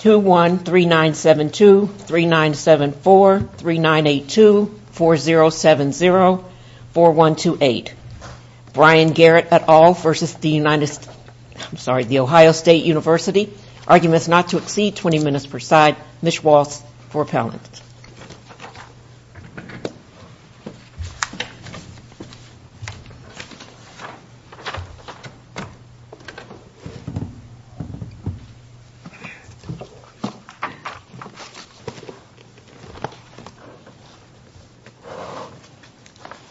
213972, 3974, 3982, 4070, 4128. Brian Garrett et al. v. The Ohio State University. Arguments not to exceed 20 minutes per side. Ms. Waltz for appellant.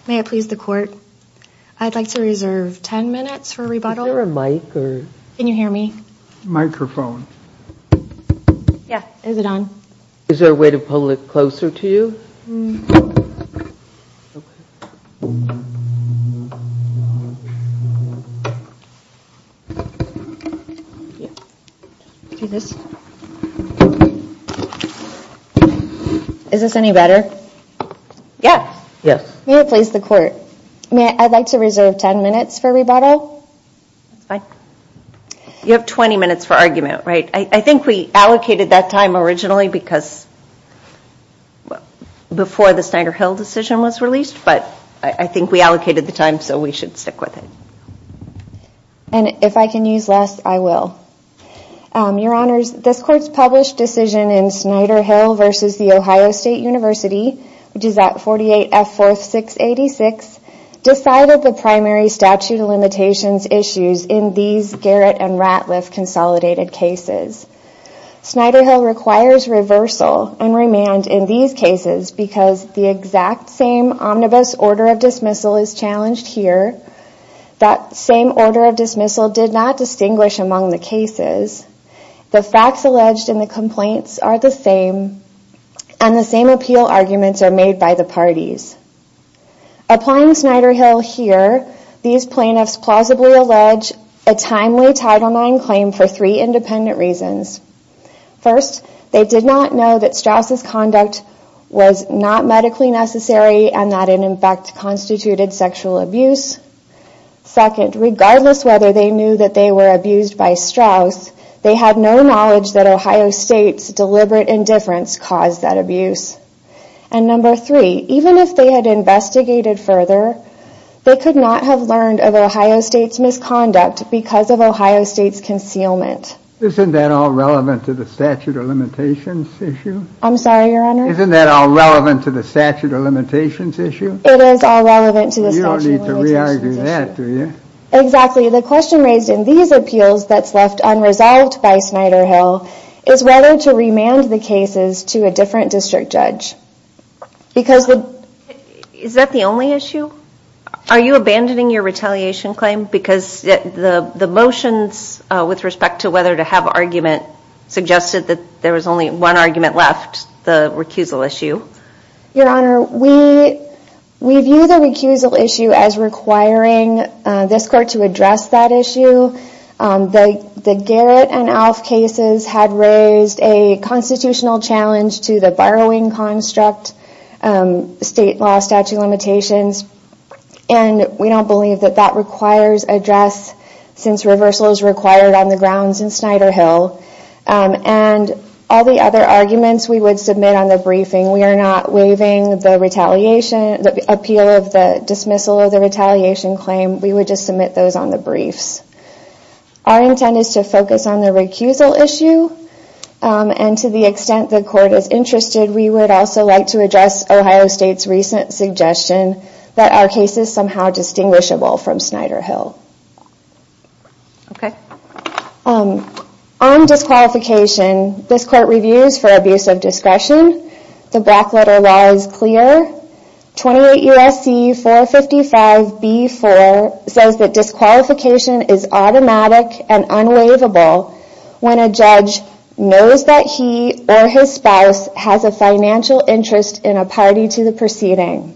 May I please the court? I'd like to reserve 10 minutes for a rebuttal. Is there a mic? Can you hear me? Microphone. Yeah, is it on? Is there a way to pull it closer to you? Is this any better? Yes. May I please the court? I'd like to reserve 10 minutes for a rebuttal. You have 20 minutes for argument, right? I think we allocated that time originally before the Snyder-Hill decision was released, but I think we allocated the time so we should stick with it. And if I can use less, I will. Your Honors, this court's published decision in Snyder-Hill v. The Ohio State University, which is at 48F4-686, decided the primary statute of limitations issues in these Garrett and Ratliff consolidated cases. Snyder-Hill requires reversal and remand in these cases because the exact same omnibus order of dismissal is challenged here. That same order of dismissal did not distinguish among the cases. The facts alleged in the complaints are the same, and the same appeal arguments are made by the parties. Applying Snyder-Hill here, these plaintiffs plausibly allege a timely Title IX claim for three independent reasons. First, they did not know that Straus' conduct was not medically necessary and that it in fact constituted sexual abuse. Second, regardless whether they knew that they were abused by Straus, they had no knowledge that Ohio State's deliberate indifference caused that abuse. And number three, even if they had investigated further, they could not have learned of Ohio State's misconduct because of Ohio State's concealment. Isn't that all relevant to the statute of limitations issue? I'm sorry, Your Honor? Isn't that all relevant to the statute of limitations issue? It is all relevant to the statute of limitations issue. You don't need to re-argue that, do you? Exactly. The question raised in these appeals that's left unresolved by Snyder-Hill is whether to remand the cases to a different district judge. Is that the only issue? Are you abandoning your retaliation claim because the motions with respect to whether to have argument suggested that there was only one argument left, the recusal issue? Your Honor, we view the recusal issue as requiring this court to address that issue. The Garrett and Alf cases had raised a constitutional challenge to the borrowing construct state law statute of limitations, and we don't believe that that requires address since reversal is required on the grounds in Snyder-Hill. All the other arguments we would submit on the briefing, we are not waiving the appeal of the dismissal of the retaliation claim, we would just submit those on the briefs. Our intent is to focus on the recusal issue, and to the extent the court is interested, we would also like to address Ohio State's recent suggestion that our case is somehow distinguishable from Snyder-Hill. On disqualification, this court reviews for abuse of discretion. The Blackletter law is clear. 28 U.S.C. 455 B.4 says that disqualification is automatic and unwaivable when a judge knows that he or his spouse has a financial interest in a party to the proceeding.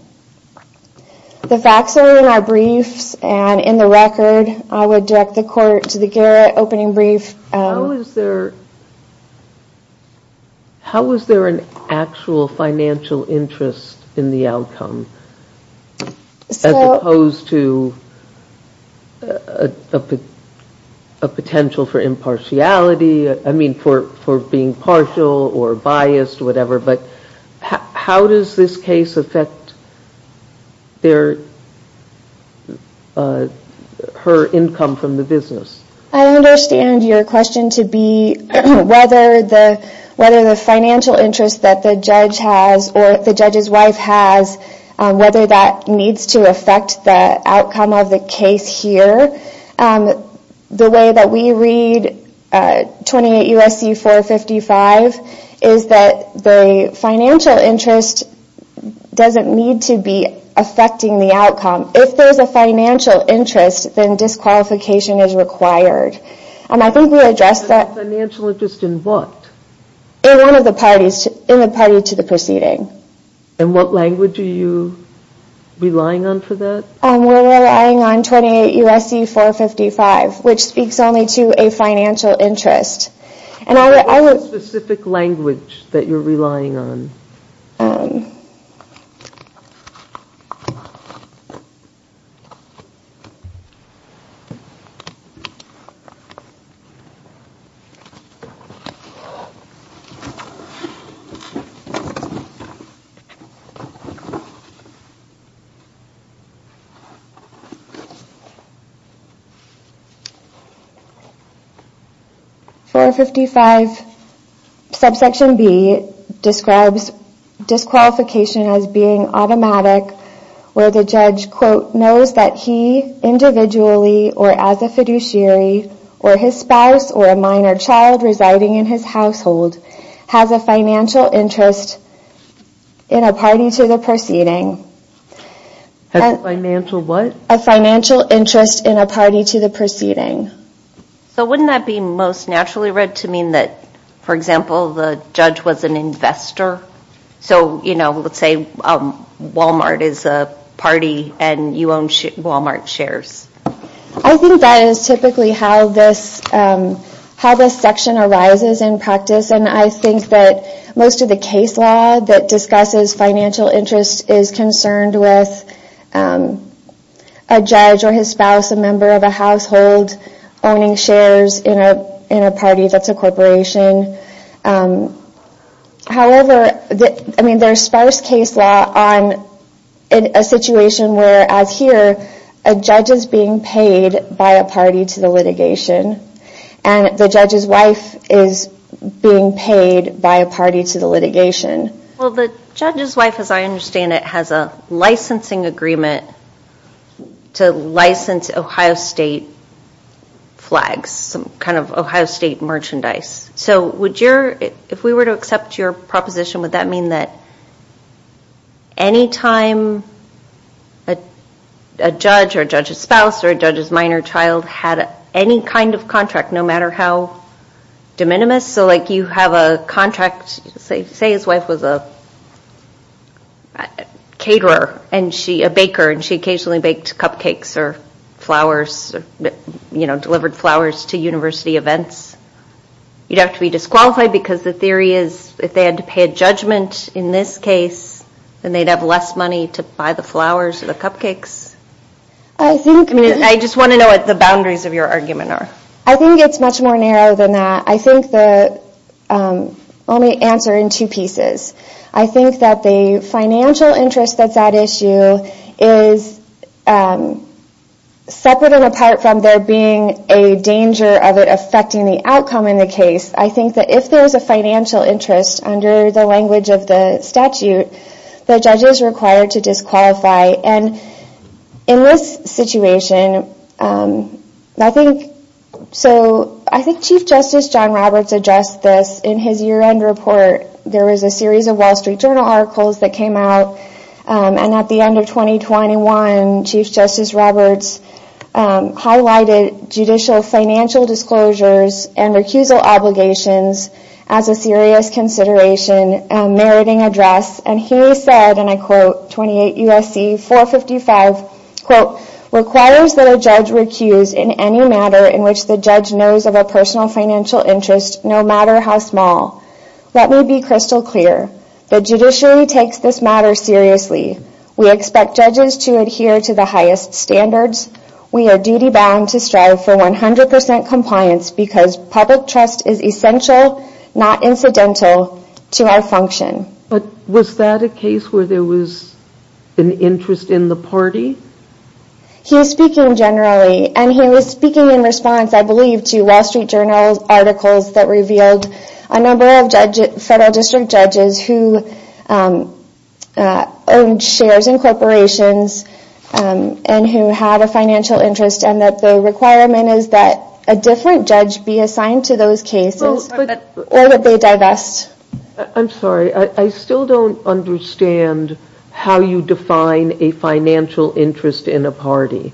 The facts are in our briefs, and in the record, I would direct the court to the Garrett opening brief. I understand your question to be whether the financial interest that the judge has, or the judge's wife has, whether that needs to affect the outcome of the case here. The way that we read 28 U.S.C. 455, is that the financial interest doesn't need to be affecting the outcome. If there is a financial interest, then disqualification is required. Financial interest in what? In one of the parties, in the party to the proceeding. And what language are you relying on for that? We're relying on 28 U.S.C. 455, which speaks only to a financial interest. What specific language that you're relying on? 28 U.S.C. 455 B.4 describes disqualification as being automatic, where the judge knows that he, individually, or as a fiduciary, or his spouse, or a minor child residing in his household, has a financial interest in a party to the proceeding. A financial what? A financial interest in a party to the proceeding. So wouldn't that be most naturally read to mean that, for example, the judge was an investor? So, you know, let's say Walmart is a party and you own Walmart shares. I think that is typically how this section arises in practice, and I think that most of the case law that discusses financial interest is concerned with a judge or his spouse, a member of a household, owning shares in a party that's a corporation. However, I mean, there's sparse case law on a situation where, as here, a judge is being paid by a party to the litigation, and the judge's wife is being paid by a party to the litigation. Well, the judge's wife, as I understand it, has a licensing agreement to license Ohio State flags, some kind of Ohio State merchandise. So if we were to accept your proposition, would that mean that any time a judge or a judge's spouse or a judge's minor child had any kind of contract, no matter how de minimis? So like you have a contract, say his wife was a caterer, a baker, and she occasionally baked cupcakes or flowers, you know, delivered flowers to university events. You'd have to be disqualified because the theory is if they had to pay a judgment in this case, then they'd have less money to buy the flowers or the cupcakes. I just want to know what the boundaries of your argument are. I think it's much more narrow than that. Let me answer in two pieces. I think that the financial interest that's at issue is separate and apart from there being a danger of it affecting the outcome in the case. I think that if there's a financial interest under the language of the statute, the judge is required to disqualify. And in this situation, I think Chief Justice John Roberts addressed this in his year-end report. There was a series of Wall Street Journal articles that came out, and at the end of 2021, Chief Justice Roberts highlighted judicial financial disclosures and recusal obligations as a serious consideration and meriting address. And he said, and I quote, 28 U.S.C. 455, quote, requires that a judge recuse in any matter in which the judge knows of a personal financial interest, no matter how small. Let me be crystal clear. The judiciary takes this matter seriously. We expect judges to adhere to the highest standards. We are duty-bound to strive for 100% compliance because public trust is essential, not incidental, to our function. But was that a case where there was an interest in the party? He was speaking generally, and he was speaking in response, I believe, to Wall Street Journal articles that revealed a number of federal district judges who owned shares in corporations and who had a financial interest, and that the requirement is that a different judge be assigned to those cases or that they divest. I'm sorry. I still don't understand how you define a financial interest in a party.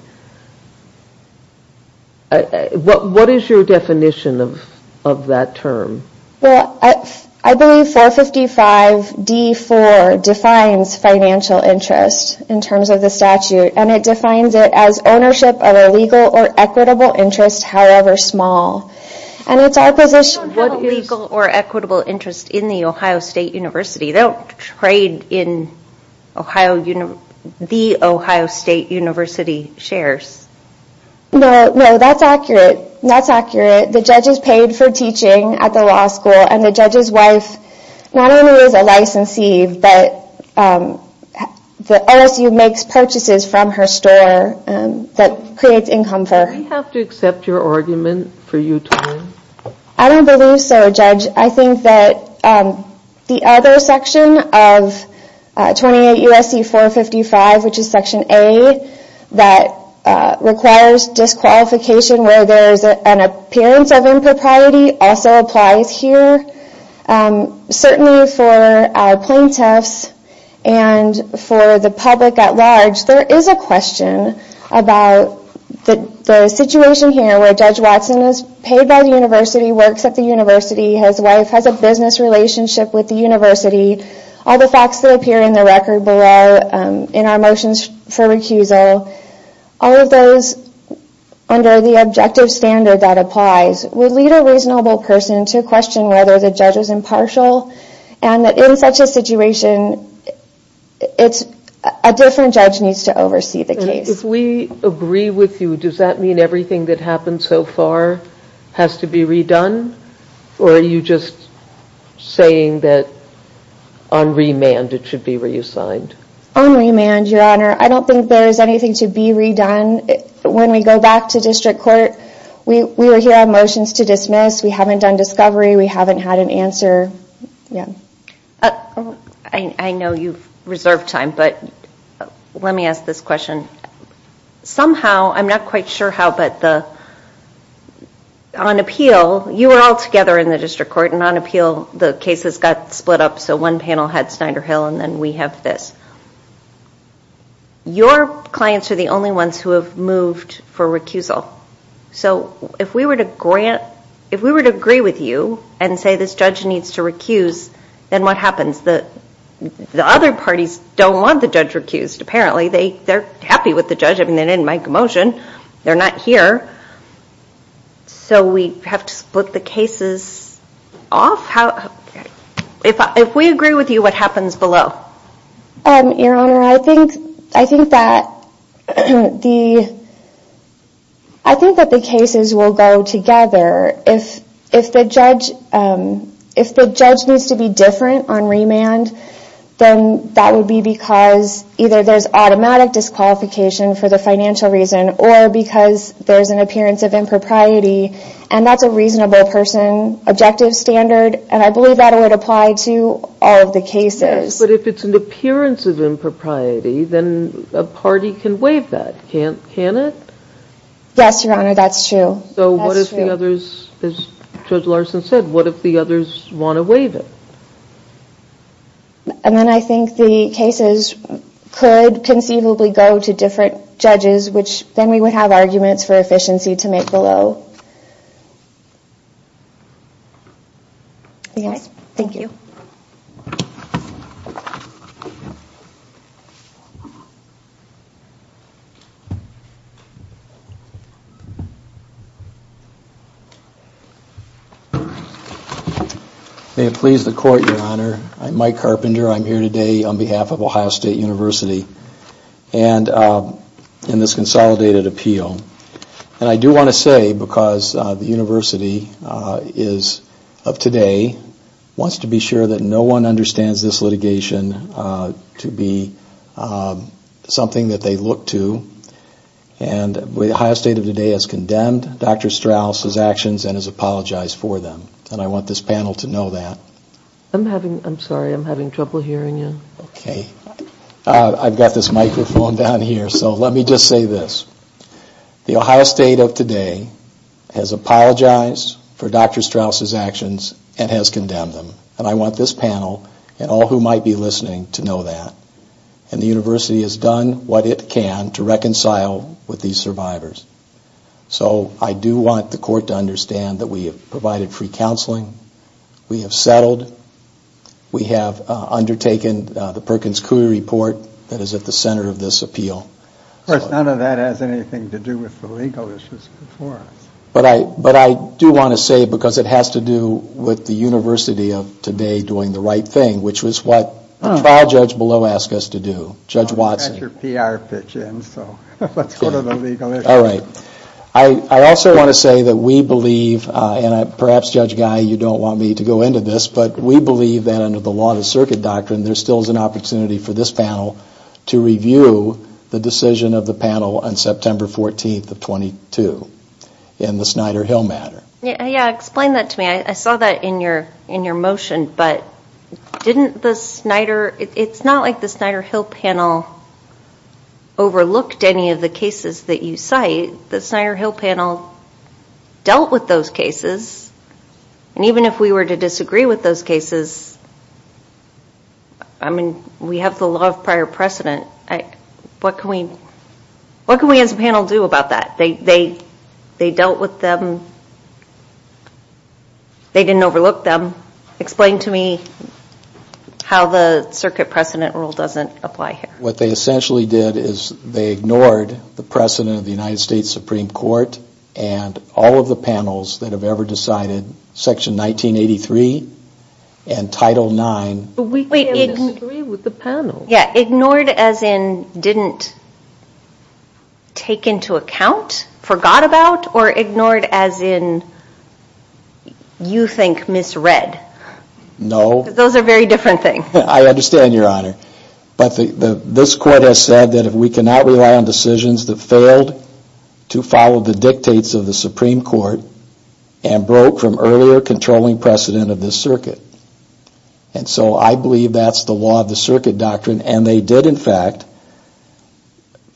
What is your definition of that term? Well, I believe 455 D.4 defines financial interest in terms of the statute, and it defines it as ownership of a legal or equitable interest, however small. I don't have a legal or equitable interest in the Ohio State University. They don't trade in the Ohio State University shares. No, that's accurate. The judge is paid for teaching at the law school, and the judge's wife not only is a licensee, but the OSU makes purchases from her store that creates income for her. Do we have to accept your argument for Utah? I don't believe so, Judge. I think that the other section of 28 U.S.C. 455, which is Section A, that requires disqualification where there is an appearance of impropriety, also applies here. Certainly for our plaintiffs and for the public at large, there is a question about the situation here where Judge Watson is paid by the university, works at the university, his wife has a business relationship with the university, all the facts that appear in the record below in our motions for recusal, all of those under the objective standard that applies would lead a reasonable person to question whether the judge is impartial, and in such a situation, a different judge needs to oversee the case. If we agree with you, does that mean everything that happened so far has to be redone, or are you just saying that on remand it should be reassigned? On remand, Your Honor, I don't think there is anything to be redone. When we go back to district court, we were here on motions to dismiss, we haven't done discovery, we haven't had an answer. I know you've reserved time, but let me ask this question. Somehow, I'm not quite sure how, but on appeal, you were all together in the district court, and on appeal the cases got split up so one panel had Snyder Hill and then we have this. Your clients are the only ones who have moved for recusal, so if we were to grant, if we were to agree with you and say this judge needs to recuse, then what happens? The other parties don't want the judge recused, apparently. They're happy with the judge, I mean, they didn't make a motion, they're not here, so we have to split the cases off? If we agree with you, what happens below? Your Honor, I think that the cases will go together. If the judge needs to be different on remand, then that would be because either there's automatic disqualification for the financial reason, or because there's an appearance of impropriety, and that's a reasonable person, objective standard, and I believe that would apply to all of the cases. But if it's an appearance of impropriety, then a party can waive that, can't it? Yes, Your Honor, that's true. So what if the others, as Judge Larson said, what if the others want to waive it? And then I think the cases could conceivably go to different judges, which then we would have arguments for efficiency to make below. Yes, thank you. May it please the Court, Your Honor, I'm Mike Carpenter, I'm here today on behalf of Ohio State University in this consolidated appeal. And I do want to say, because the University is of today, wants to be sure that no one understands this litigation to be something that they look to, and Ohio State of today has condemned Dr. Strauss's actions and has apologized for them. And I want this panel to know that. I'm sorry, I'm having trouble hearing you. I've got this microphone down here, so let me just say this. The Ohio State of today has apologized for Dr. Strauss's actions and has condemned them. And I want this panel and all who might be listening to know that. And the University has done what it can to reconcile with these survivors. So I do want the Court to understand that we have provided free counseling, we have settled, we have undertaken the Perkins-Cooley report that is at the center of this appeal. Of course, none of that has anything to do with the legal issues before us. But I do want to say, because it has to do with the University of today doing the right thing, which is what the trial judge below asked us to do, Judge Watson. You've got your PR pitch in, so let's go to the legal issues. All right. I also want to say that we believe, and perhaps Judge Guy, you don't want me to go into this, but we believe that under the law and the circuit doctrine, there still is an opportunity for this panel to review the decision of the panel on September 14th of 22 in the Snyder Hill matter. Yeah, explain that to me. I saw that in your motion, but didn't the Snyder, it's not like the Snyder Hill panel overlooked any of the cases that you cite. The Snyder Hill panel dealt with those cases, and even if we were to disagree with those cases, I mean, we have the law of prior precedent. What can we as a panel do about that? They dealt with them. They didn't overlook them. Explain to me how the circuit precedent rule doesn't apply here. What they essentially did is they ignored the precedent of the United States Supreme Court and all of the panels that have ever decided Section 1983 and Title IX. But we can disagree with the panel. Yeah, ignored as in didn't take into account, forgot about, or ignored as in you think misread? No. Those are very different things. I understand, Your Honor. But this court has said that if we cannot rely on decisions that failed to follow the dictates of the Supreme Court and broke from earlier controlling precedent of this circuit, and so I believe that's the law of the circuit doctrine, and they did in fact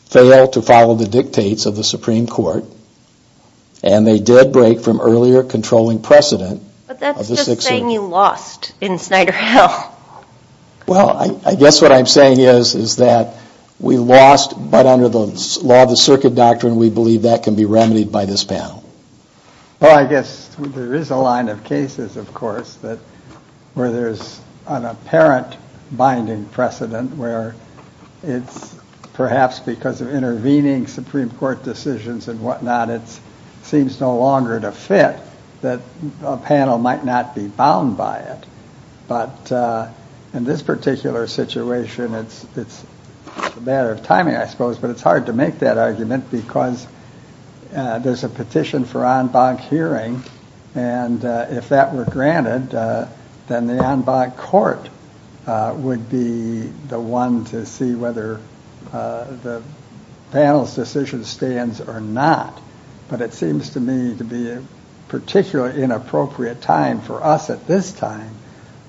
fail to follow the dictates of the Supreme Court, and they did break from earlier controlling precedent. But that's just saying you lost in Snyder Hill. Well, I guess what I'm saying is that we lost, but under the law of the circuit doctrine, we believe that can be remedied by this panel. Well, I guess there is a line of cases, of course, where there's an apparent binding precedent where it's perhaps because of intervening Supreme Court decisions and whatnot, it seems no longer to fit that a panel might not be bound by it. But in this particular situation, it's a matter of timing, I suppose, but it's hard to make that argument because there's a petition for en banc hearing, and if that were granted, then the en banc court would be the one to see whether the panel's decision stands or not. But it seems to me to be a particularly inappropriate time for us at this time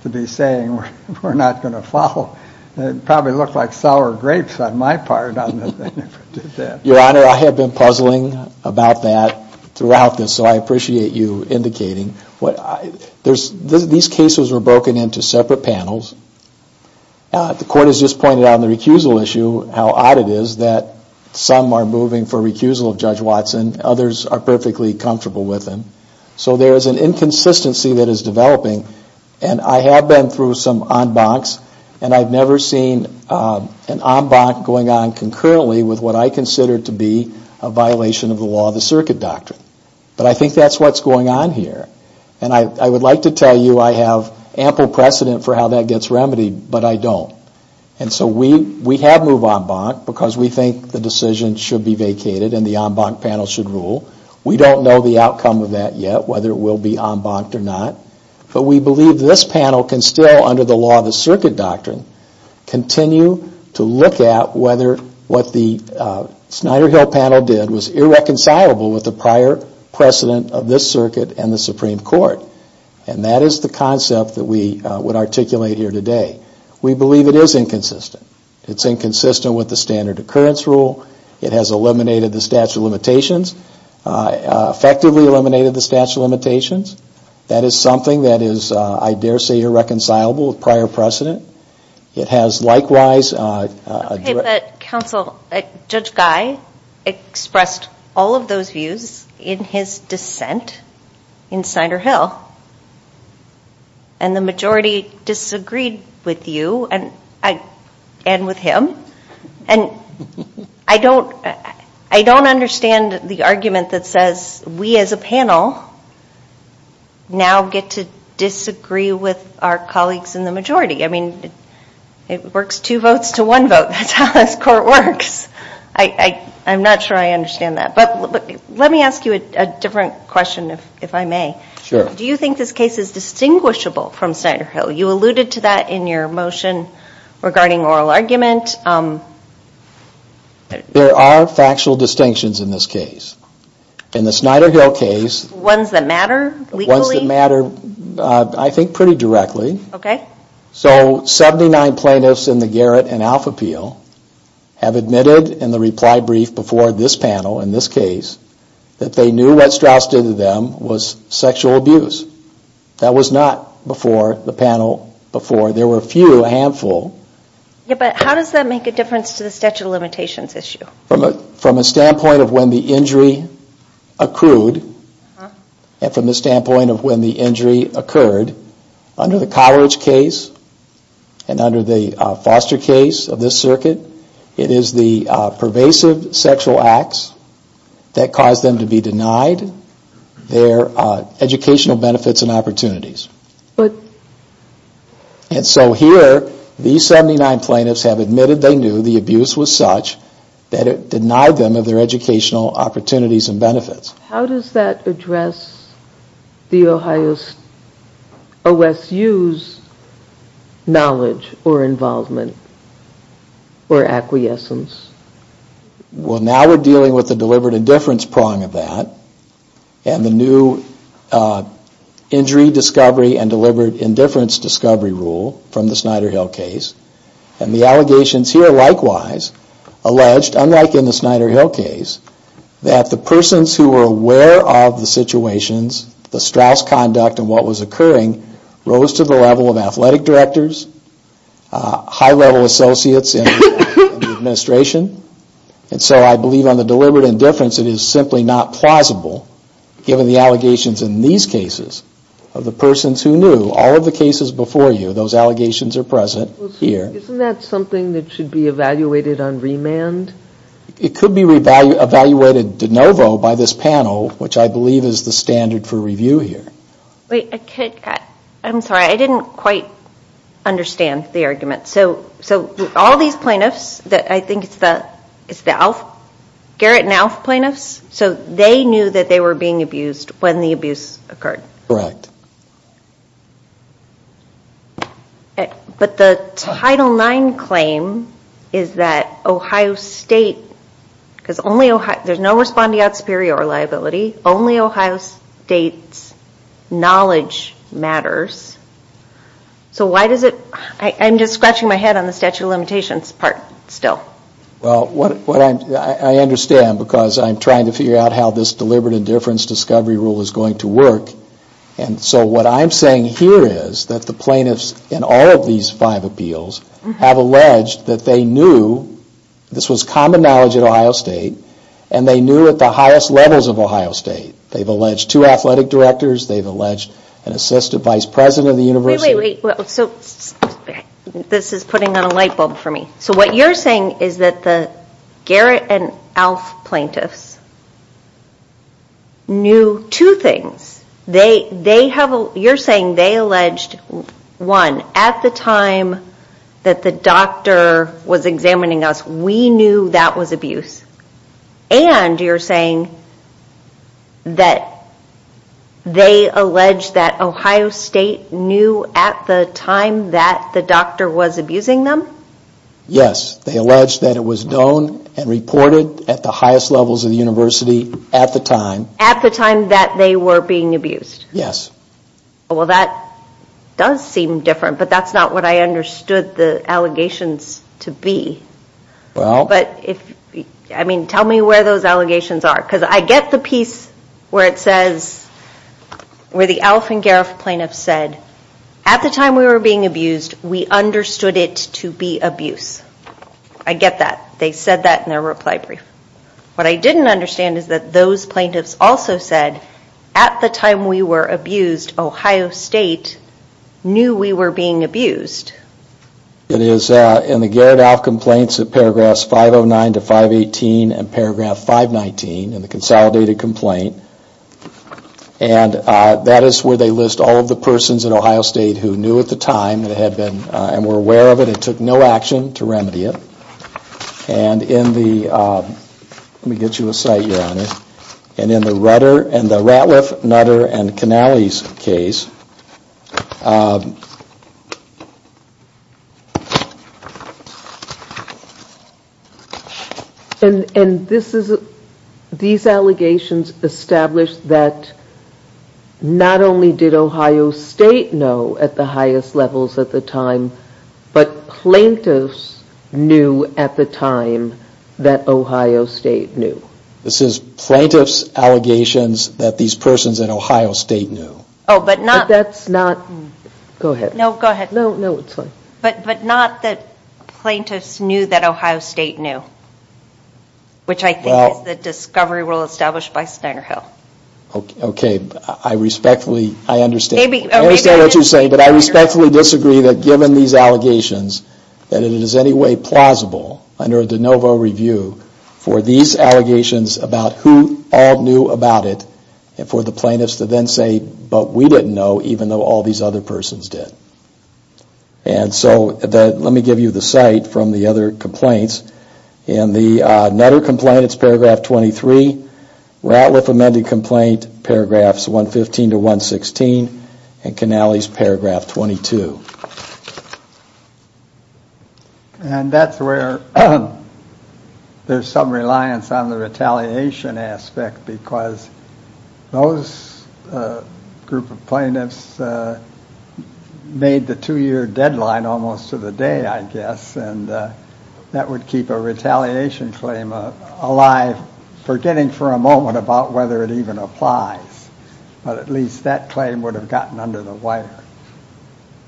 to be saying we're not going to follow. It would probably look like sour grapes on my part. Your Honor, I have been puzzling about that throughout this, so I appreciate you indicating. These cases were broken into separate panels. The Court has just pointed out in the recusal issue how odd it is that some are moving for recusal of Judge Watson, others are perfectly comfortable with him. So there is an inconsistency that is developing, and I have been through some en bancs, and I've never seen an en banc going on concurrently with what I consider to be a violation of the law of the circuit doctrine. But I think that's what's going on here, and I would like to tell you I have ample precedent for how that gets remedied, but I don't. And so we have moved en banc because we think the decision should be vacated and the en banc panel should rule. We don't know the outcome of that yet, whether it will be en banc-ed or not, but we believe this panel can still, under the law of the circuit doctrine, continue to look at whether what the Snyder Hill panel did was irreconcilable with the prior precedent of this circuit and the Supreme Court. And that is the concept that we would articulate here today. We believe it is inconsistent. It's inconsistent with the standard occurrence rule. It has eliminated the statute of limitations, effectively eliminated the statute of limitations. That is something that is, I dare say, irreconcilable with prior precedent. It has likewise- Okay, but counsel, Judge Guy expressed all of those views in his dissent in Snyder Hill, and the majority disagreed with you and with him. And I don't understand the argument that says we as a panel now get to disagree with our colleagues in the majority. I mean, it works two votes to one vote. That's how this court works. I'm not sure I understand that. But let me ask you a different question, if I may. So you alluded to that in your motion regarding oral argument. There are factual distinctions in this case. In the Snyder Hill case- Ones that matter legally? Ones that matter, I think, pretty directly. Okay. So 79 plaintiffs in the Garrett and Alpha Appeal have admitted in the reply brief before this panel, in this case, that they knew what Strauss did to them was sexual abuse. That was not before the panel before. There were a few, a handful. Yeah, but how does that make a difference to the statute of limitations issue? From a standpoint of when the injury accrued, and from the standpoint of when the injury occurred, under the Cotteridge case and under the Foster case of this circuit, it is the pervasive sexual acts that caused them to be denied their educational benefits and opportunities. And so here, these 79 plaintiffs have admitted they knew the abuse was such that it denied them of their educational opportunities and benefits. How does that address the Ohio OSU's knowledge or involvement or acquiescence? Well, now we're dealing with the deliberate indifference prong of that and the new injury discovery and deliberate indifference discovery rule from the Snyder-Hill case. And the allegations here, likewise, alleged, unlike in the Snyder-Hill case, that the persons who were aware of the situations, the Strauss conduct and what was occurring, rose to the level of athletic directors, high-level associates in the administration. And so I believe on the deliberate indifference, it is simply not plausible, given the allegations in these cases of the persons who knew. All of the cases before you, those allegations are present here. Isn't that something that should be evaluated on remand? It could be evaluated de novo by this panel, which I believe is the standard for review here. Wait, I'm sorry, I didn't quite understand the argument. So all these plaintiffs, I think it's the Garrett and Alf plaintiffs, so they knew that they were being abused when the abuse occurred? Correct. But the Title IX claim is that Ohio State, because there's no respondeat superior liability, only Ohio State's knowledge matters. So why does it, I'm just scratching my head on the statute of limitations part still. Well, I understand because I'm trying to figure out how this deliberate indifference discovery rule is going to work. And so what I'm saying here is that the plaintiffs in all of these five appeals have alleged that they knew, this was common knowledge at Ohio State, and they knew at the highest levels of Ohio State. They've alleged two athletic directors, they've alleged an assistant vice president of the university. Wait, wait, wait. This is putting on a light bulb for me. So what you're saying is that the Garrett and Alf plaintiffs knew two things. You're saying they alleged, one, at the time that the doctor was examining us, we knew that was abuse. And you're saying that they alleged that Ohio State knew at the time that the doctor was abusing them? Yes, they alleged that it was known and reported at the highest levels of the university at the time. At the time that they were being abused? Yes. Well, that does seem different, but that's not what I understood the allegations to be. But if, I mean, tell me where those allegations are. Because I get the piece where it says, where the Alf and Garrett plaintiffs said, at the time we were being abused, we understood it to be abuse. I get that. They said that in their reply brief. What I didn't understand is that those plaintiffs also said, at the time we were abused, Ohio State knew we were being abused. It is in the Garrett-Alf complaints in paragraphs 509 to 518 and paragraph 519 in the consolidated complaint. And that is where they list all of the persons in Ohio State who knew at the time and were aware of it and took no action to remedy it. And in the, let me get you a site here on this. And in the Ratliff, Nutter, and Canales case. And these allegations established that not only did Ohio State know at the highest levels at the time, but plaintiffs knew at the time that Ohio State knew. This is plaintiffs' allegations that these persons in Ohio State knew. Oh, but not. But that's not, go ahead. No, go ahead. No, no, it's fine. But not that plaintiffs knew that Ohio State knew. Which I think is the discovery rule established by Snyder Hill. Okay, I respectfully, I understand. I understand what you're saying, but I respectfully disagree that given these allegations, that it is anyway plausible under a de novo review for these allegations about who all knew about it and for the plaintiffs to then say, but we didn't know even though all these other persons did. And so, let me give you the site from the other complaints. In the Nutter complaint, it's paragraph 23. Ratliff amended complaint, paragraphs 115 to 116. And Canales, paragraph 22. And that's where there's some reliance on the retaliation aspect because those group of plaintiffs made the two-year deadline almost to the day, I guess, and that would keep a retaliation claim alive, forgetting for a moment about whether it even applies. But at least that claim would have gotten under the wire.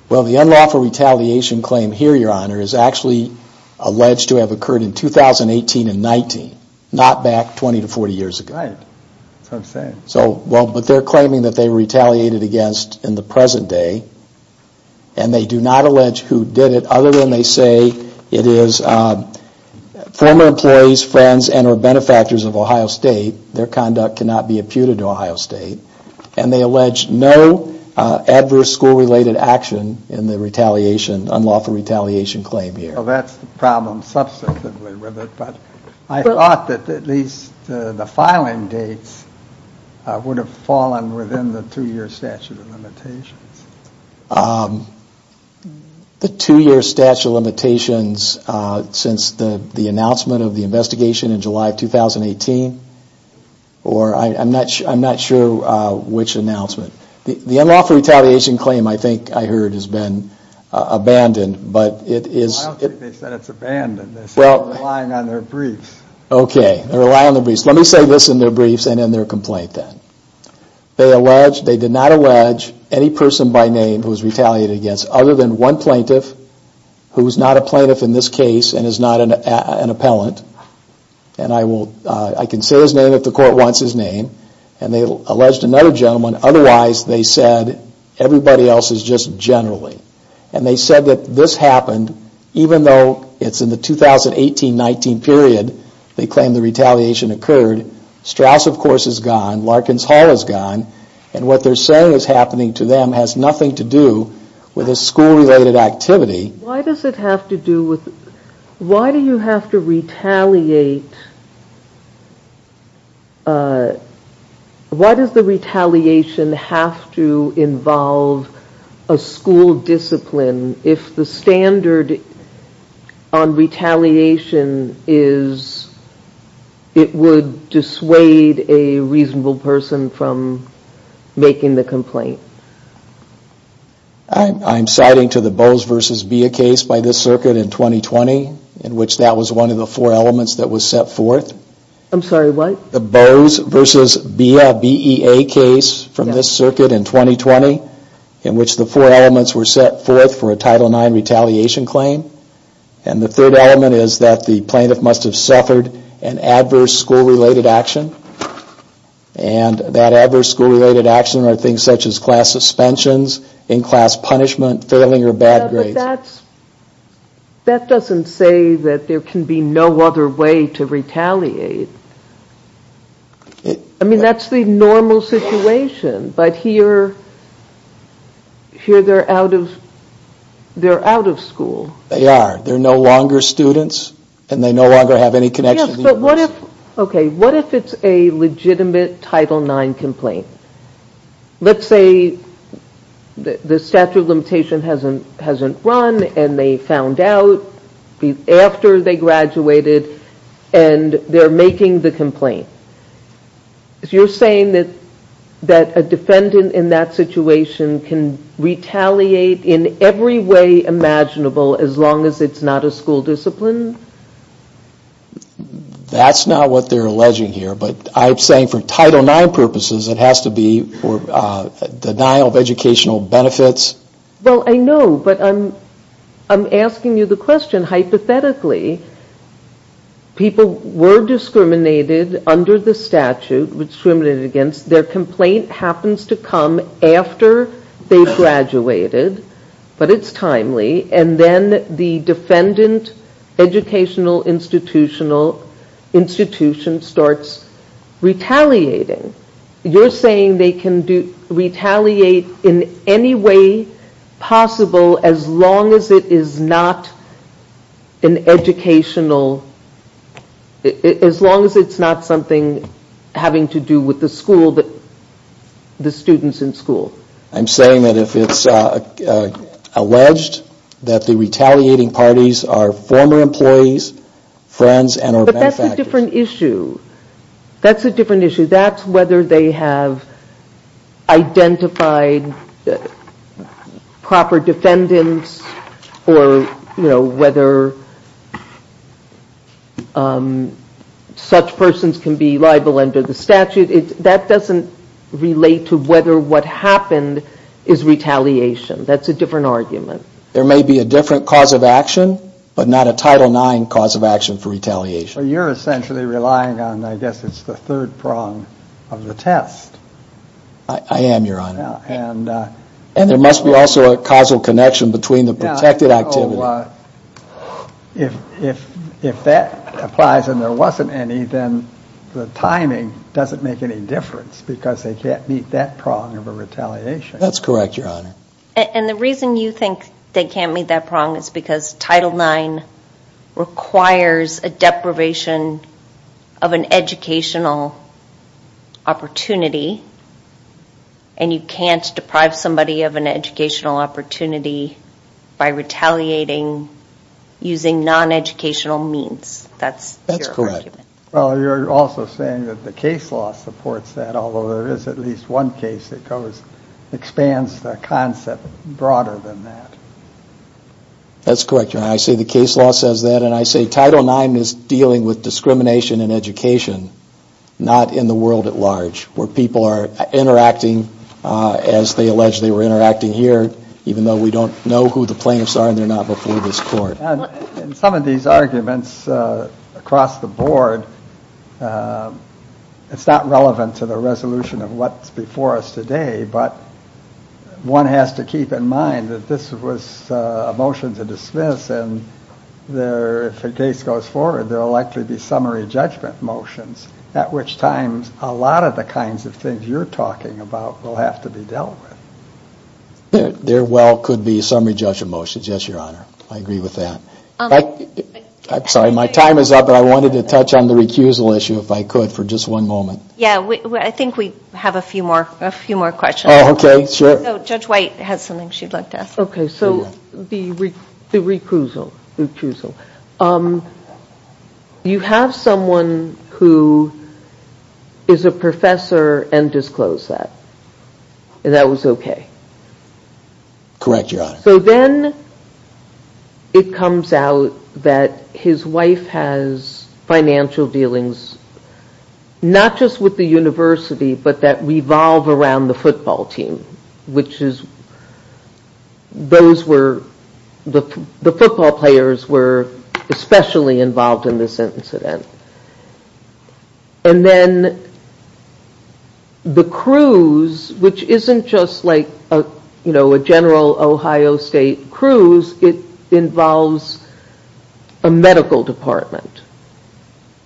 Well, the unlawful retaliation claim here, Your Honor, is actually alleged to have occurred in 2018 and 19, not back 20 to 40 years ago. Right, that's what I'm saying. So, well, but they're claiming that they retaliated against in the present day and they do not allege who did it other than they say it is former employees, friends, and or benefactors of Ohio State. Their conduct cannot be imputed to Ohio State. And they allege no adverse school-related action in the retaliation, unlawful retaliation claim here. Well, that's the problem substantively with it, but I thought that at least the filing dates would have fallen within the two-year statute of limitations. The two-year statute of limitations since the announcement of the investigation in July of 2018? Or I'm not sure which announcement. The unlawful retaliation claim, I think I heard, has been abandoned, but it is... I don't think they said it's abandoned, they said they're relying on their briefs. Okay, they rely on their briefs. Let me say this in their briefs and in their complaint then. They allege, they did not allege any person by name who was retaliated against other than one plaintiff who is not a plaintiff in this case and is not an appellant. And I will, I can say his name if the court wants his name. And they alleged another gentleman. Otherwise, they said everybody else is just generally. And they said that this happened even though it's in the 2018-19 period they claim the retaliation occurred. Straus, of course, is gone. Larkins Hall is gone. And what they're saying is happening to them has nothing to do with a school-related activity. Why does it have to do with, why do you have to retaliate? Why does the retaliation have to involve a school discipline if the standard on retaliation is it would dissuade a reasonable person from making the complaint? I'm citing to the Bowes v. Bea case by this circuit in 2020 in which that was one of the four elements that was set forth. I'm sorry, what? The Bowes v. Bea, B-E-A case from this circuit in 2020 in which the four elements were set forth for a Title IX retaliation claim. And the third element is that the plaintiff must have suffered an adverse school-related action. And that adverse school-related action are things such as class suspensions, in-class punishment, failing or bad grades. That doesn't say that there can be no other way to retaliate. I mean, that's the normal situation. But here they're out of school. They are. They're no longer students and they no longer have any connection. Yes, but what if it's a legitimate Title IX complaint? Let's say the statute of limitation hasn't run and they found out after they graduated and they're making the complaint. You're saying that a defendant in that situation can retaliate in every way imaginable as long as it's not a school discipline? That's not what they're alleging here, but I'm saying for Title IX purposes it has to be denial of educational benefits. Well, I know, but I'm asking you the question. Hypothetically, people were discriminated under the statute, discriminated against. Their complaint happens to come after they graduated, but it's timely. And then the defendant educational institution starts retaliating. You're saying they can retaliate in any way possible as long as it's not something having to do with the students in school? I'm saying that if it's alleged that the retaliating parties are former employees, friends, and or benefactors. But that's a different issue. That's a different issue. That's whether they have identified proper defendants or whether such persons can be liable under the statute. That doesn't relate to whether what happened is retaliation. That's a different argument. There may be a different cause of action, but not a Title IX cause of action for retaliation. So you're essentially relying on, I guess it's the third prong of the test. I am, Your Honor. And there must be also a causal connection between the protected activity. If that applies and there wasn't any, then the timing doesn't make any difference because they can't meet that prong of a retaliation. That's correct, Your Honor. And the reason you think they can't meet that prong is because Title IX requires a deprivation of an educational opportunity. And you can't deprive somebody of an educational opportunity by retaliating using non-educational means. That's your argument. Well, you're also saying that the case law supports that, although there is at least one case that expands the concept broader than that. That's correct, Your Honor. I say the case law says that, and I say Title IX is dealing with discrimination in education, not in the world at large, where people are interacting as they alleged they were interacting here, even though we don't know who the plaintiffs are and they're not before this court. And some of these arguments across the board, it's not relevant to the resolution of what's before us today, but one has to keep in mind that this was a motion to dismiss, and if a case goes forward, there will likely be summary judgment motions, at which times a lot of the kinds of things you're talking about will have to be dealt with. There well could be summary judgment motions, yes, Your Honor. I agree with that. I'm sorry, my time is up, but I wanted to touch on the recusal issue, if I could, for just one moment. Yeah, I think we have a few more questions. Okay, sure. Judge White has something she'd like to ask. Okay, so the recusal. You have someone who is a professor and disclosed that, and that was okay? Correct, Your Honor. So then it comes out that his wife has financial dealings, not just with the university, but that revolve around the football team, which is, those were, the football players were especially involved in this incident. And then the cruise, which isn't just like a general Ohio State cruise, it involves a medical department.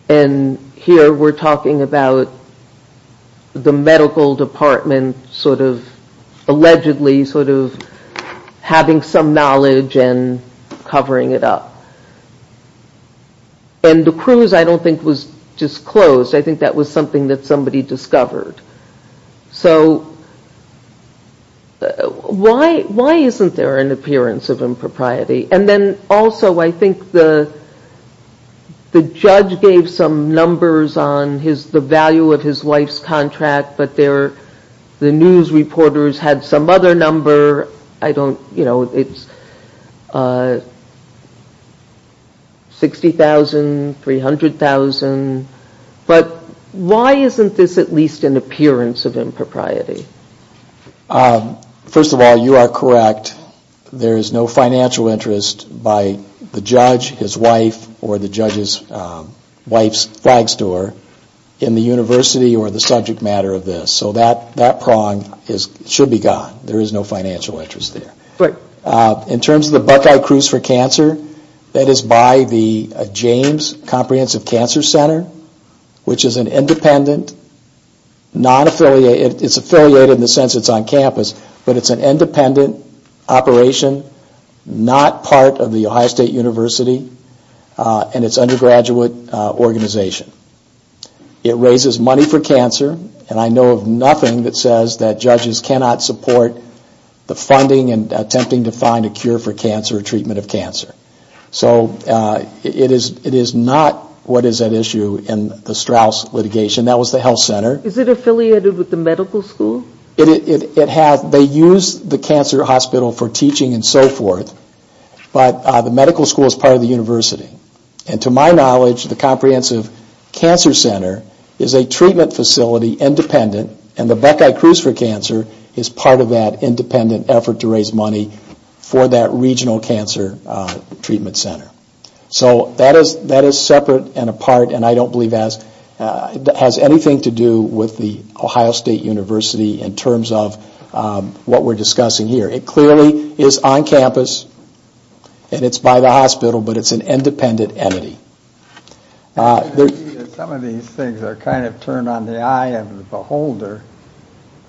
And here we're talking about the medical department sort of allegedly sort of having some knowledge and covering it up. And the cruise I don't think was disclosed. I think that was something that somebody discovered. So why isn't there an appearance of impropriety? And then also I think the judge gave some numbers on the value of his wife's contract, but the news reporters had some other number. I don't, you know, it's $60,000, $300,000. But why isn't this at least an appearance of impropriety? First of all, you are correct. There is no financial interest by the judge, his wife, or the judge's wife's flag store, in the university or the subject matter of this. So that prong should be gone. There is no financial interest there. In terms of the Buckeye Cruise for Cancer, that is by the James Comprehensive Cancer Center, which is an independent, non-affiliated, it's affiliated in the sense it's on campus, but it's an independent operation, not part of the Ohio State University and its undergraduate organization. It raises money for cancer, and I know of nothing that says that judges cannot support the funding and attempting to find a cure for cancer or treatment of cancer. So it is not what is at issue in the Straus litigation. That was the health center. Is it affiliated with the medical school? They use the cancer hospital for teaching and so forth, but the medical school is part of the university. And to my knowledge, the Comprehensive Cancer Center is a treatment facility independent, and the Buckeye Cruise for Cancer is part of that independent effort to raise money for that regional cancer treatment center. So that is separate and apart, and I don't believe it has anything to do with the Ohio State University in terms of what we're discussing here. It clearly is on campus, and it's by the hospital, but it's an independent entity. Some of these things are kind of turned on the eye of the beholder.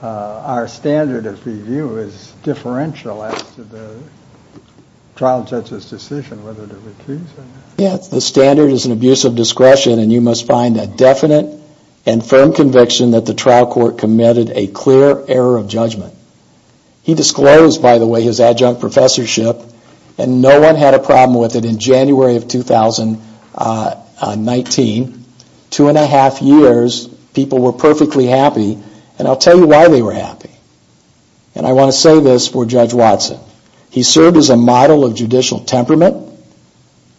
Our standard of review is differential as to the trial judge's decision whether to recuse or not. Yes, the standard is an abuse of discretion, and you must find a definite and firm conviction that the trial court committed a clear error of judgment. He disclosed, by the way, his adjunct professorship, and no one had a problem with it in January of 2019. Two and a half years, people were perfectly happy, and I'll tell you why they were happy. And I want to say this for Judge Watson. He served as a model of judicial temperament.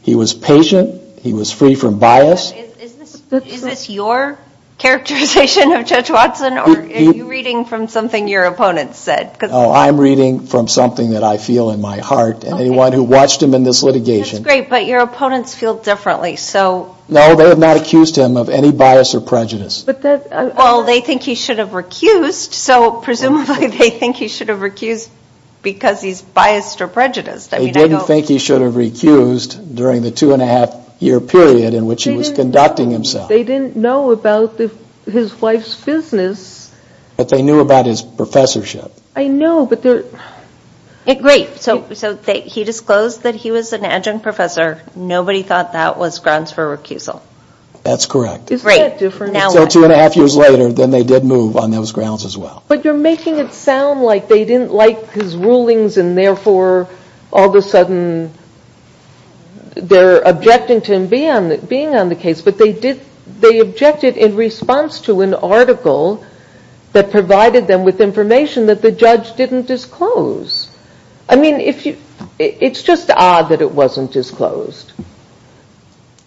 He was patient. He was free from bias. Is this your characterization of Judge Watson, or are you reading from something your opponents said? No, I'm reading from something that I feel in my heart, and anyone who watched him in this litigation. That's great, but your opponents feel differently, so. No, they have not accused him of any bias or prejudice. Well, they think he should have recused, so presumably they think he should have recused because he's biased or prejudiced. They didn't think he should have recused during the two and a half year period in which he was conducting himself. They didn't know about his wife's business. But they knew about his professorship. I know, but they're. Great, so he disclosed that he was an adjunct professor. Nobody thought that was grounds for recusal. That's correct. Isn't that different? It's two and a half years later, then they did move on those grounds as well. But you're making it sound like they didn't like his rulings, and therefore all of a sudden they're objecting to him being on the case. But they objected in response to an article that provided them with information that the judge didn't disclose. I mean, it's just odd that it wasn't disclosed.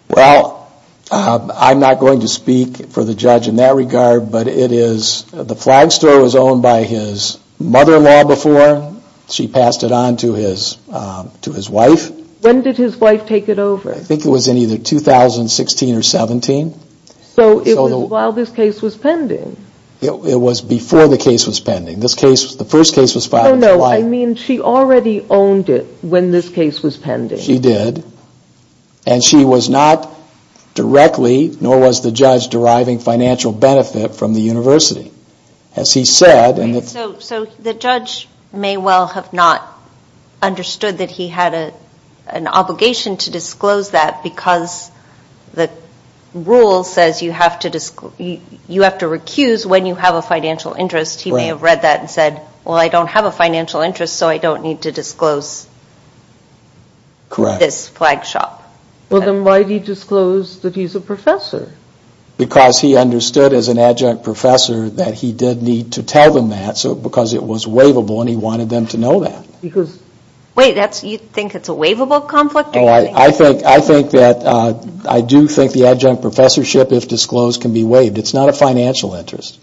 Well, I'm not going to speak for the judge in that regard, but the Flag Store was owned by his mother-in-law before. She passed it on to his wife. When did his wife take it over? I think it was in either 2016 or 2017. So it was while this case was pending. It was before the case was pending. The first case was filed in July. No, no, I mean she already owned it when this case was pending. She did. And she was not directly, nor was the judge, deriving financial benefit from the university. So the judge may well have not understood that he had an obligation to disclose that because the rule says you have to recuse when you have a financial interest. He may have read that and said, well, I don't have a financial interest, so I don't need to disclose this flag shop. Well, then why did he disclose that he's a professor? Because he understood as an adjunct professor that he did need to tell them that because it was waivable and he wanted them to know that. Wait, you think it's a waivable conflict? I do think the adjunct professorship, if disclosed, can be waived. It's not a financial interest.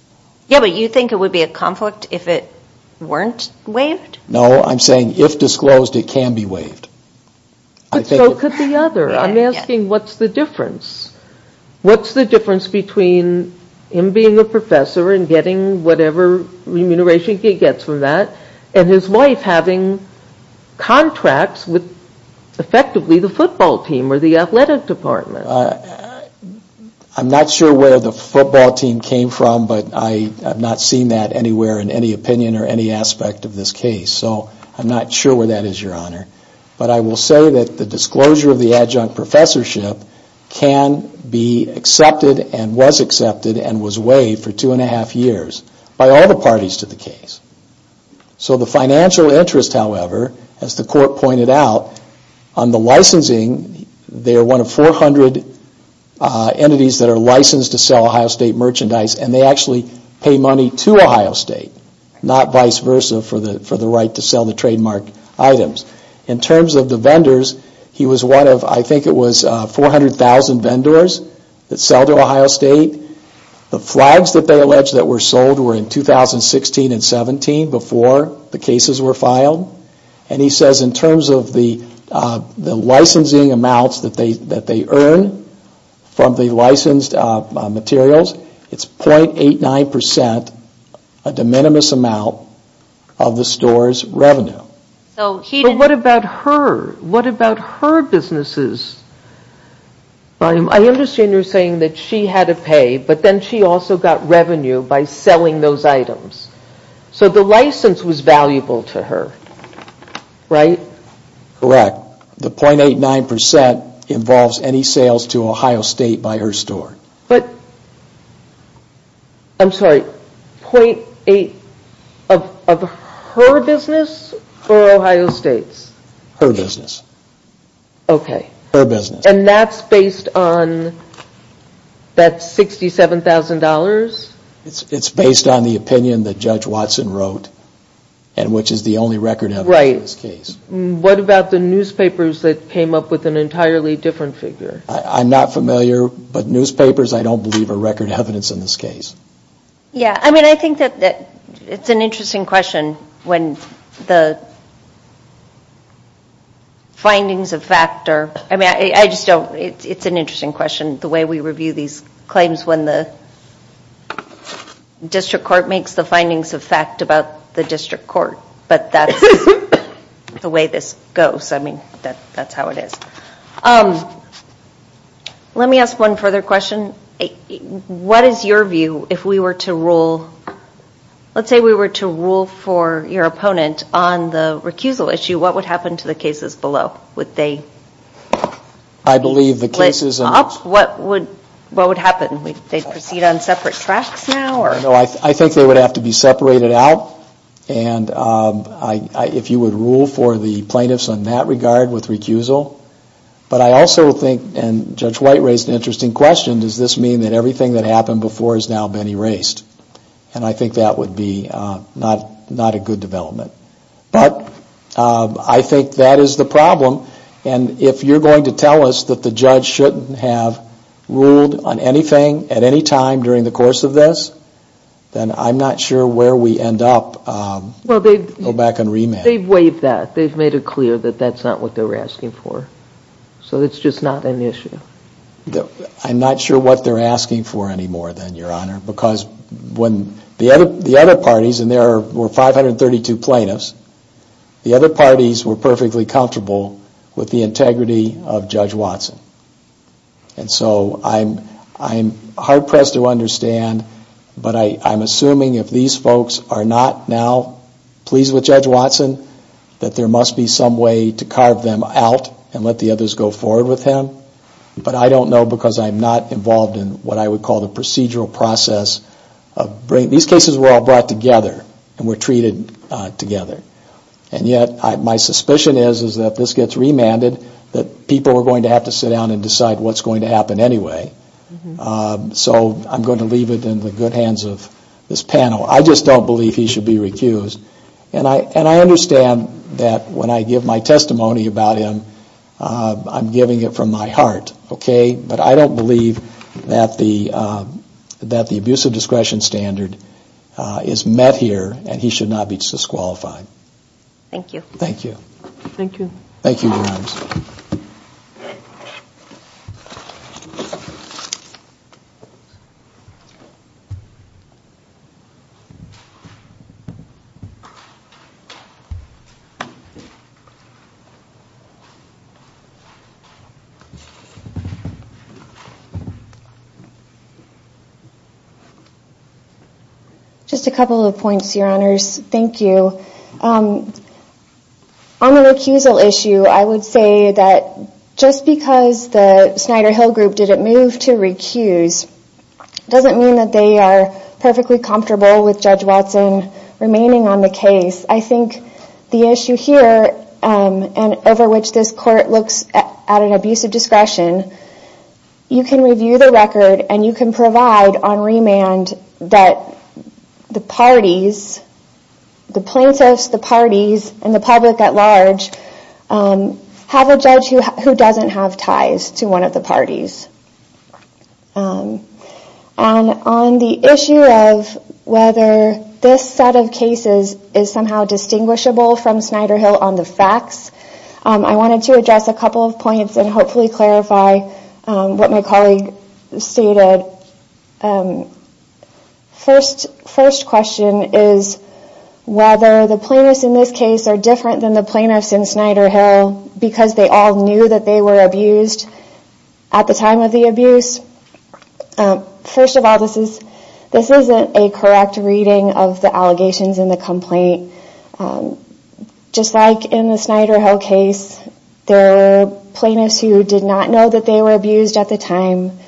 Yeah, but you think it would be a conflict if it weren't waived? No, I'm saying if disclosed, it can be waived. But so could the other. I'm asking what's the difference? What's the difference between him being a professor and getting whatever remuneration he gets from that, and his wife having contracts with effectively the football team or the athletic department? I'm not sure where the football team came from, but I have not seen that anywhere in any opinion or any aspect of this case. So I'm not sure where that is, Your Honor. But I will say that the disclosure of the adjunct professorship can be accepted and was accepted and was waived for two and a half years by all the parties to the case. So the financial interest, however, as the court pointed out, on the licensing, they are one of 400 entities that are licensed to sell Ohio State merchandise, and they actually pay money to Ohio State, not vice versa for the right to sell the trademark items. In terms of the vendors, he was one of, I think it was 400,000 vendors that sell to Ohio State. The flags that they allege that were sold were in 2016 and 2017, before the cases were filed. And he says in terms of the licensing amounts that they earn from the licensed materials, it's .89 percent, a de minimis amount, of the store's revenue. But what about her? What about her businesses? I understand you're saying that she had to pay, but then she also got revenue by selling those items. So the license was valuable to her, right? Correct. The .89 percent involves any sales to Ohio State by her store. But, I'm sorry, .8 of her business or Ohio State's? Her business. Okay. Her business. And that's based on that $67,000? It's based on the opinion that Judge Watson wrote, and which is the only record of this case. Right. What about the newspapers that came up with an entirely different figure? I'm not familiar, but newspapers, I don't believe, are record evidence in this case. Yeah. I mean, I think that it's an interesting question when the findings of fact are – I mean, I just don't – it's an interesting question, the way we review these claims, when the district court makes the findings of fact about the district court. But that's the way this goes. I mean, that's how it is. Let me ask one further question. What is your view if we were to rule – let's say we were to rule for your opponent on the recusal issue, what would happen to the cases below? Would they – I believe the cases – What would happen? Would they proceed on separate tracks now? No, I think they would have to be separated out, and if you would rule for the plaintiffs in that regard with recusal. But I also think, and Judge White raised an interesting question, does this mean that everything that happened before has now been erased? And I think that would be not a good development. But I think that is the problem, and if you're going to tell us that the judge shouldn't have ruled on anything at any time during the course of this, then I'm not sure where we end up. Well, they've – Go back and remand. They've waived that. They've made it clear that that's not what they were asking for. So it's just not an issue. I'm not sure what they're asking for anymore then, Your Honor, because when – the other parties, and there were 532 plaintiffs, the other parties were perfectly comfortable with the integrity of Judge Watson. And so I'm hard-pressed to understand, but I'm assuming if these folks are not now pleased with Judge Watson, that there must be some way to carve them out and let the others go forward with him. But I don't know because I'm not involved in what I would call the procedural process. These cases were all brought together, and were treated together. And yet my suspicion is that this gets remanded, that people are going to have to sit down and decide what's going to happen anyway. So I'm going to leave it in the good hands of this panel. I just don't believe he should be recused. And I understand that when I give my testimony about him, I'm giving it from my heart, okay? But I don't believe that the abuse of discretion standard is met here, and he should not be disqualified. Thank you. Thank you. Thank you, Your Honors. Just a couple of points, Your Honors. Thank you. On the recusal issue, I would say that just because the Snyder-Hill Group didn't move to recuse, doesn't mean that they are perfectly comfortable with Judge Watson remaining on the case. I think the issue here, and over which this Court looks at an abuse of discretion, you can review the record, and you can provide on remand that the parties, the plaintiffs, the parties, and the public at large, have a judge who doesn't have ties to one of the parties. And on the issue of whether this set of cases is somehow distinguishable from Snyder-Hill on the facts, I wanted to address a couple of points and hopefully clarify what my colleague stated. First question is whether the plaintiffs in this case are different than the plaintiffs in Snyder-Hill because they all knew that they were abused at the time of the abuse. First of all, this isn't a correct reading of the allegations in the complaint. Just like in the Snyder-Hill case, there were plaintiffs who did not know that they were abused at the time,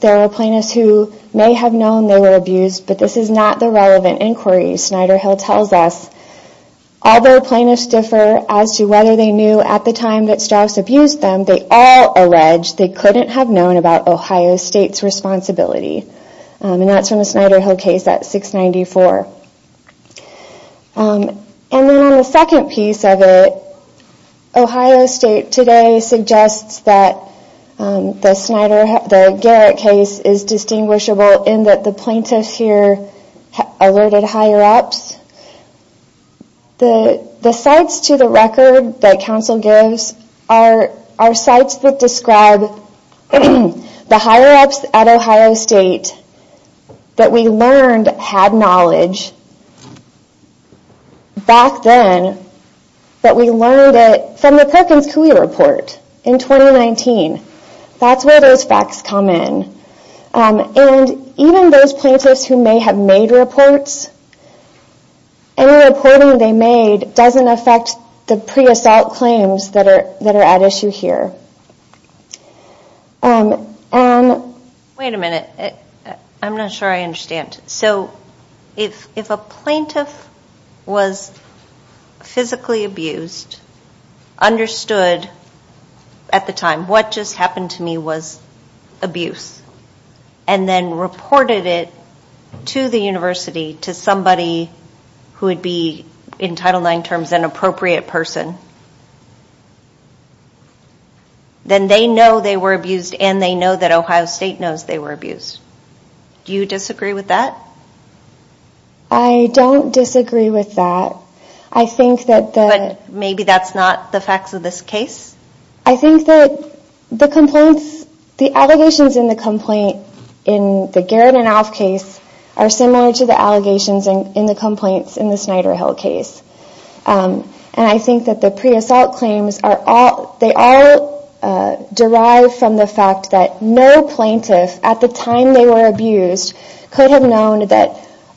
there were plaintiffs who may have known they were abused, but this is not the relevant inquiry Snyder-Hill tells us. Although plaintiffs differ as to whether they knew at the time that Strauss abused them, they all allege they couldn't have known about Ohio State's responsibility. And that's from the Snyder-Hill case at 694. And then on the second piece of it, Ohio State today suggests that the Garrett case is distinguishable in that the plaintiffs here alerted higher-ups. The sites to the record that counsel gives are sites that describe the higher-ups at Ohio State that we learned had knowledge back then, but we learned it from the Perkins-Cooley report in 2019. That's where those facts come in. And even those plaintiffs who may have made reports, any reporting they made doesn't affect the pre-assault claims that are at issue here. Wait a minute. I'm not sure I understand. So if a plaintiff was physically abused, understood at the time what just happened to me was abuse, and then reported it to the university to somebody who would be, in Title IX terms, an appropriate person, then they know they were abused and they know that Ohio State knows they were abused. Do you disagree with that? I don't disagree with that. But maybe that's not the facts of this case? I think that the allegations in the Garrett and Alf case are similar to the allegations in the Snyder-Hill case. And I think that the pre-assault claims, they are derived from the fact that no plaintiff at the time they were abused could have known that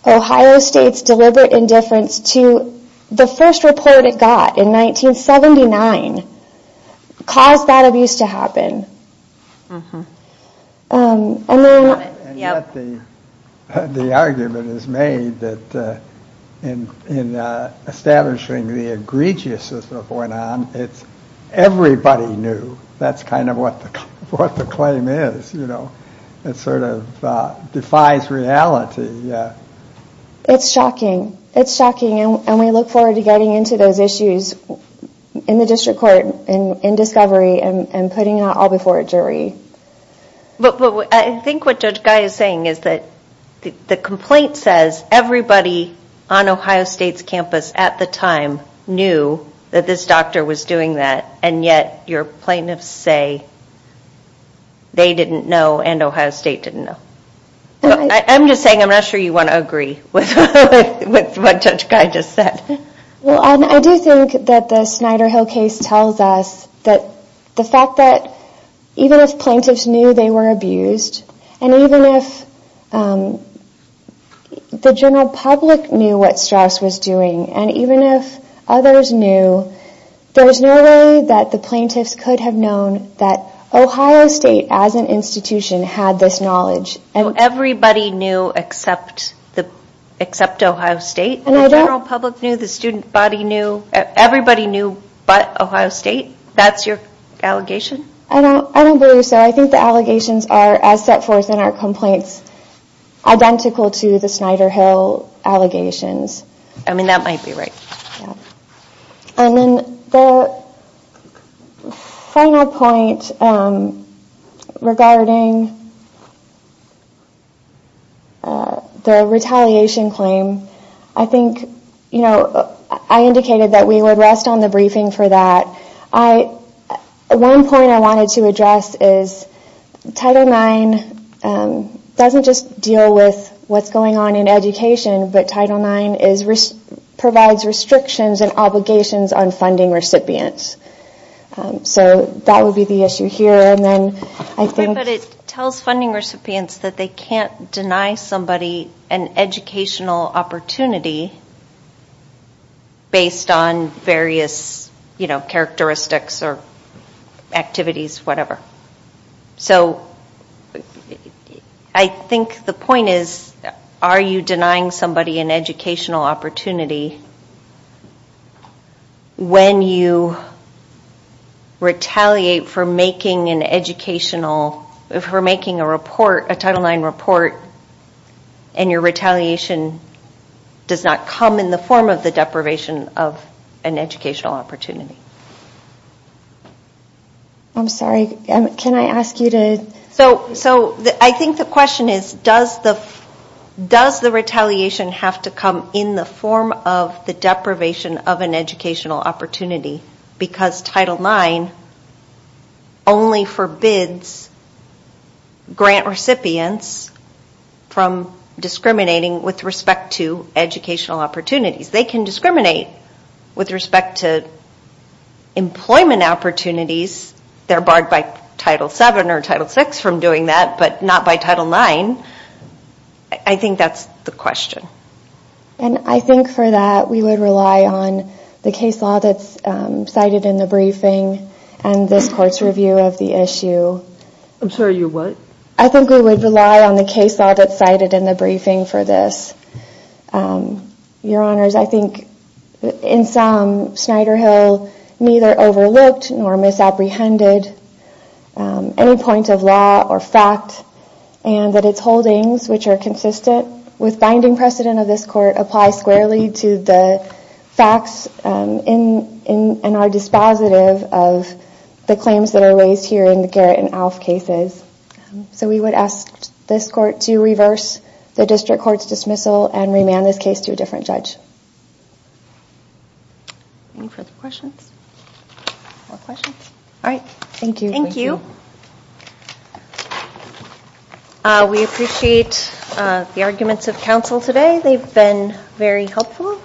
Ohio State's deliberate indifference to the first report it got in 1979 caused that abuse to happen. And yet the argument is made that in establishing the egregiousness of what went on, it's everybody knew. That's kind of what the claim is. It sort of defies reality. It's shocking. It's shocking. And we look forward to getting into those issues in the district court, in discovery, and putting it all before a jury. But I think what Judge Guy is saying is that the complaint says everybody on Ohio State's campus at the time knew that this doctor was doing that, and yet your plaintiffs say they didn't know and Ohio State didn't know. I'm just saying I'm not sure you want to agree with what Judge Guy just said. Well, I do think that the Snyder-Hill case tells us that the fact that even if plaintiffs knew they were abused, and even if the general public knew what Strauss was doing, and even if others knew, there's no way that the plaintiffs could have known that Ohio State as an institution had this knowledge. So everybody knew except Ohio State? The general public knew, the student body knew, everybody knew but Ohio State? That's your allegation? I don't believe so. I think the allegations are, as set forth in our complaints, identical to the Snyder-Hill allegations. I mean, that might be right. And then the final point regarding the retaliation claim, I indicated that we would rest on the briefing for that. One point I wanted to address is Title IX doesn't just deal with what's going on in education, but Title IX provides restrictions and obligations on funding recipients. So that would be the issue here. But it tells funding recipients that they can't deny somebody an educational opportunity based on various characteristics or activities, whatever. So I think the point is, are you denying somebody an educational opportunity when you retaliate for making a Title IX report and your retaliation does not come in the form of the deprivation of an educational opportunity? I'm sorry, can I ask you to... So I think the question is, does the retaliation have to come in the form of the deprivation of an educational opportunity because Title IX only forbids grant recipients from discriminating with respect to educational opportunities. They can discriminate with respect to employment opportunities. They're barred by Title VII or Title VI from doing that, but not by Title IX. I think that's the question. And I think for that, we would rely on the case law that's cited in the briefing and this court's review of the issue. I'm sorry, your what? I think we would rely on the case law that's cited in the briefing for this. Your Honors, I think in sum, Snyder Hill neither overlooked nor misapprehended any point of law or fact and that its holdings, which are consistent with binding precedent of this court, apply squarely to the facts in our dispositive of the claims that are raised here in the Garrett and Alf cases. So we would ask this court to reverse the district court's dismissal and remand this case to a different judge. Any further questions? All right, thank you. Thank you. We appreciate the arguments of counsel today. They've been very helpful.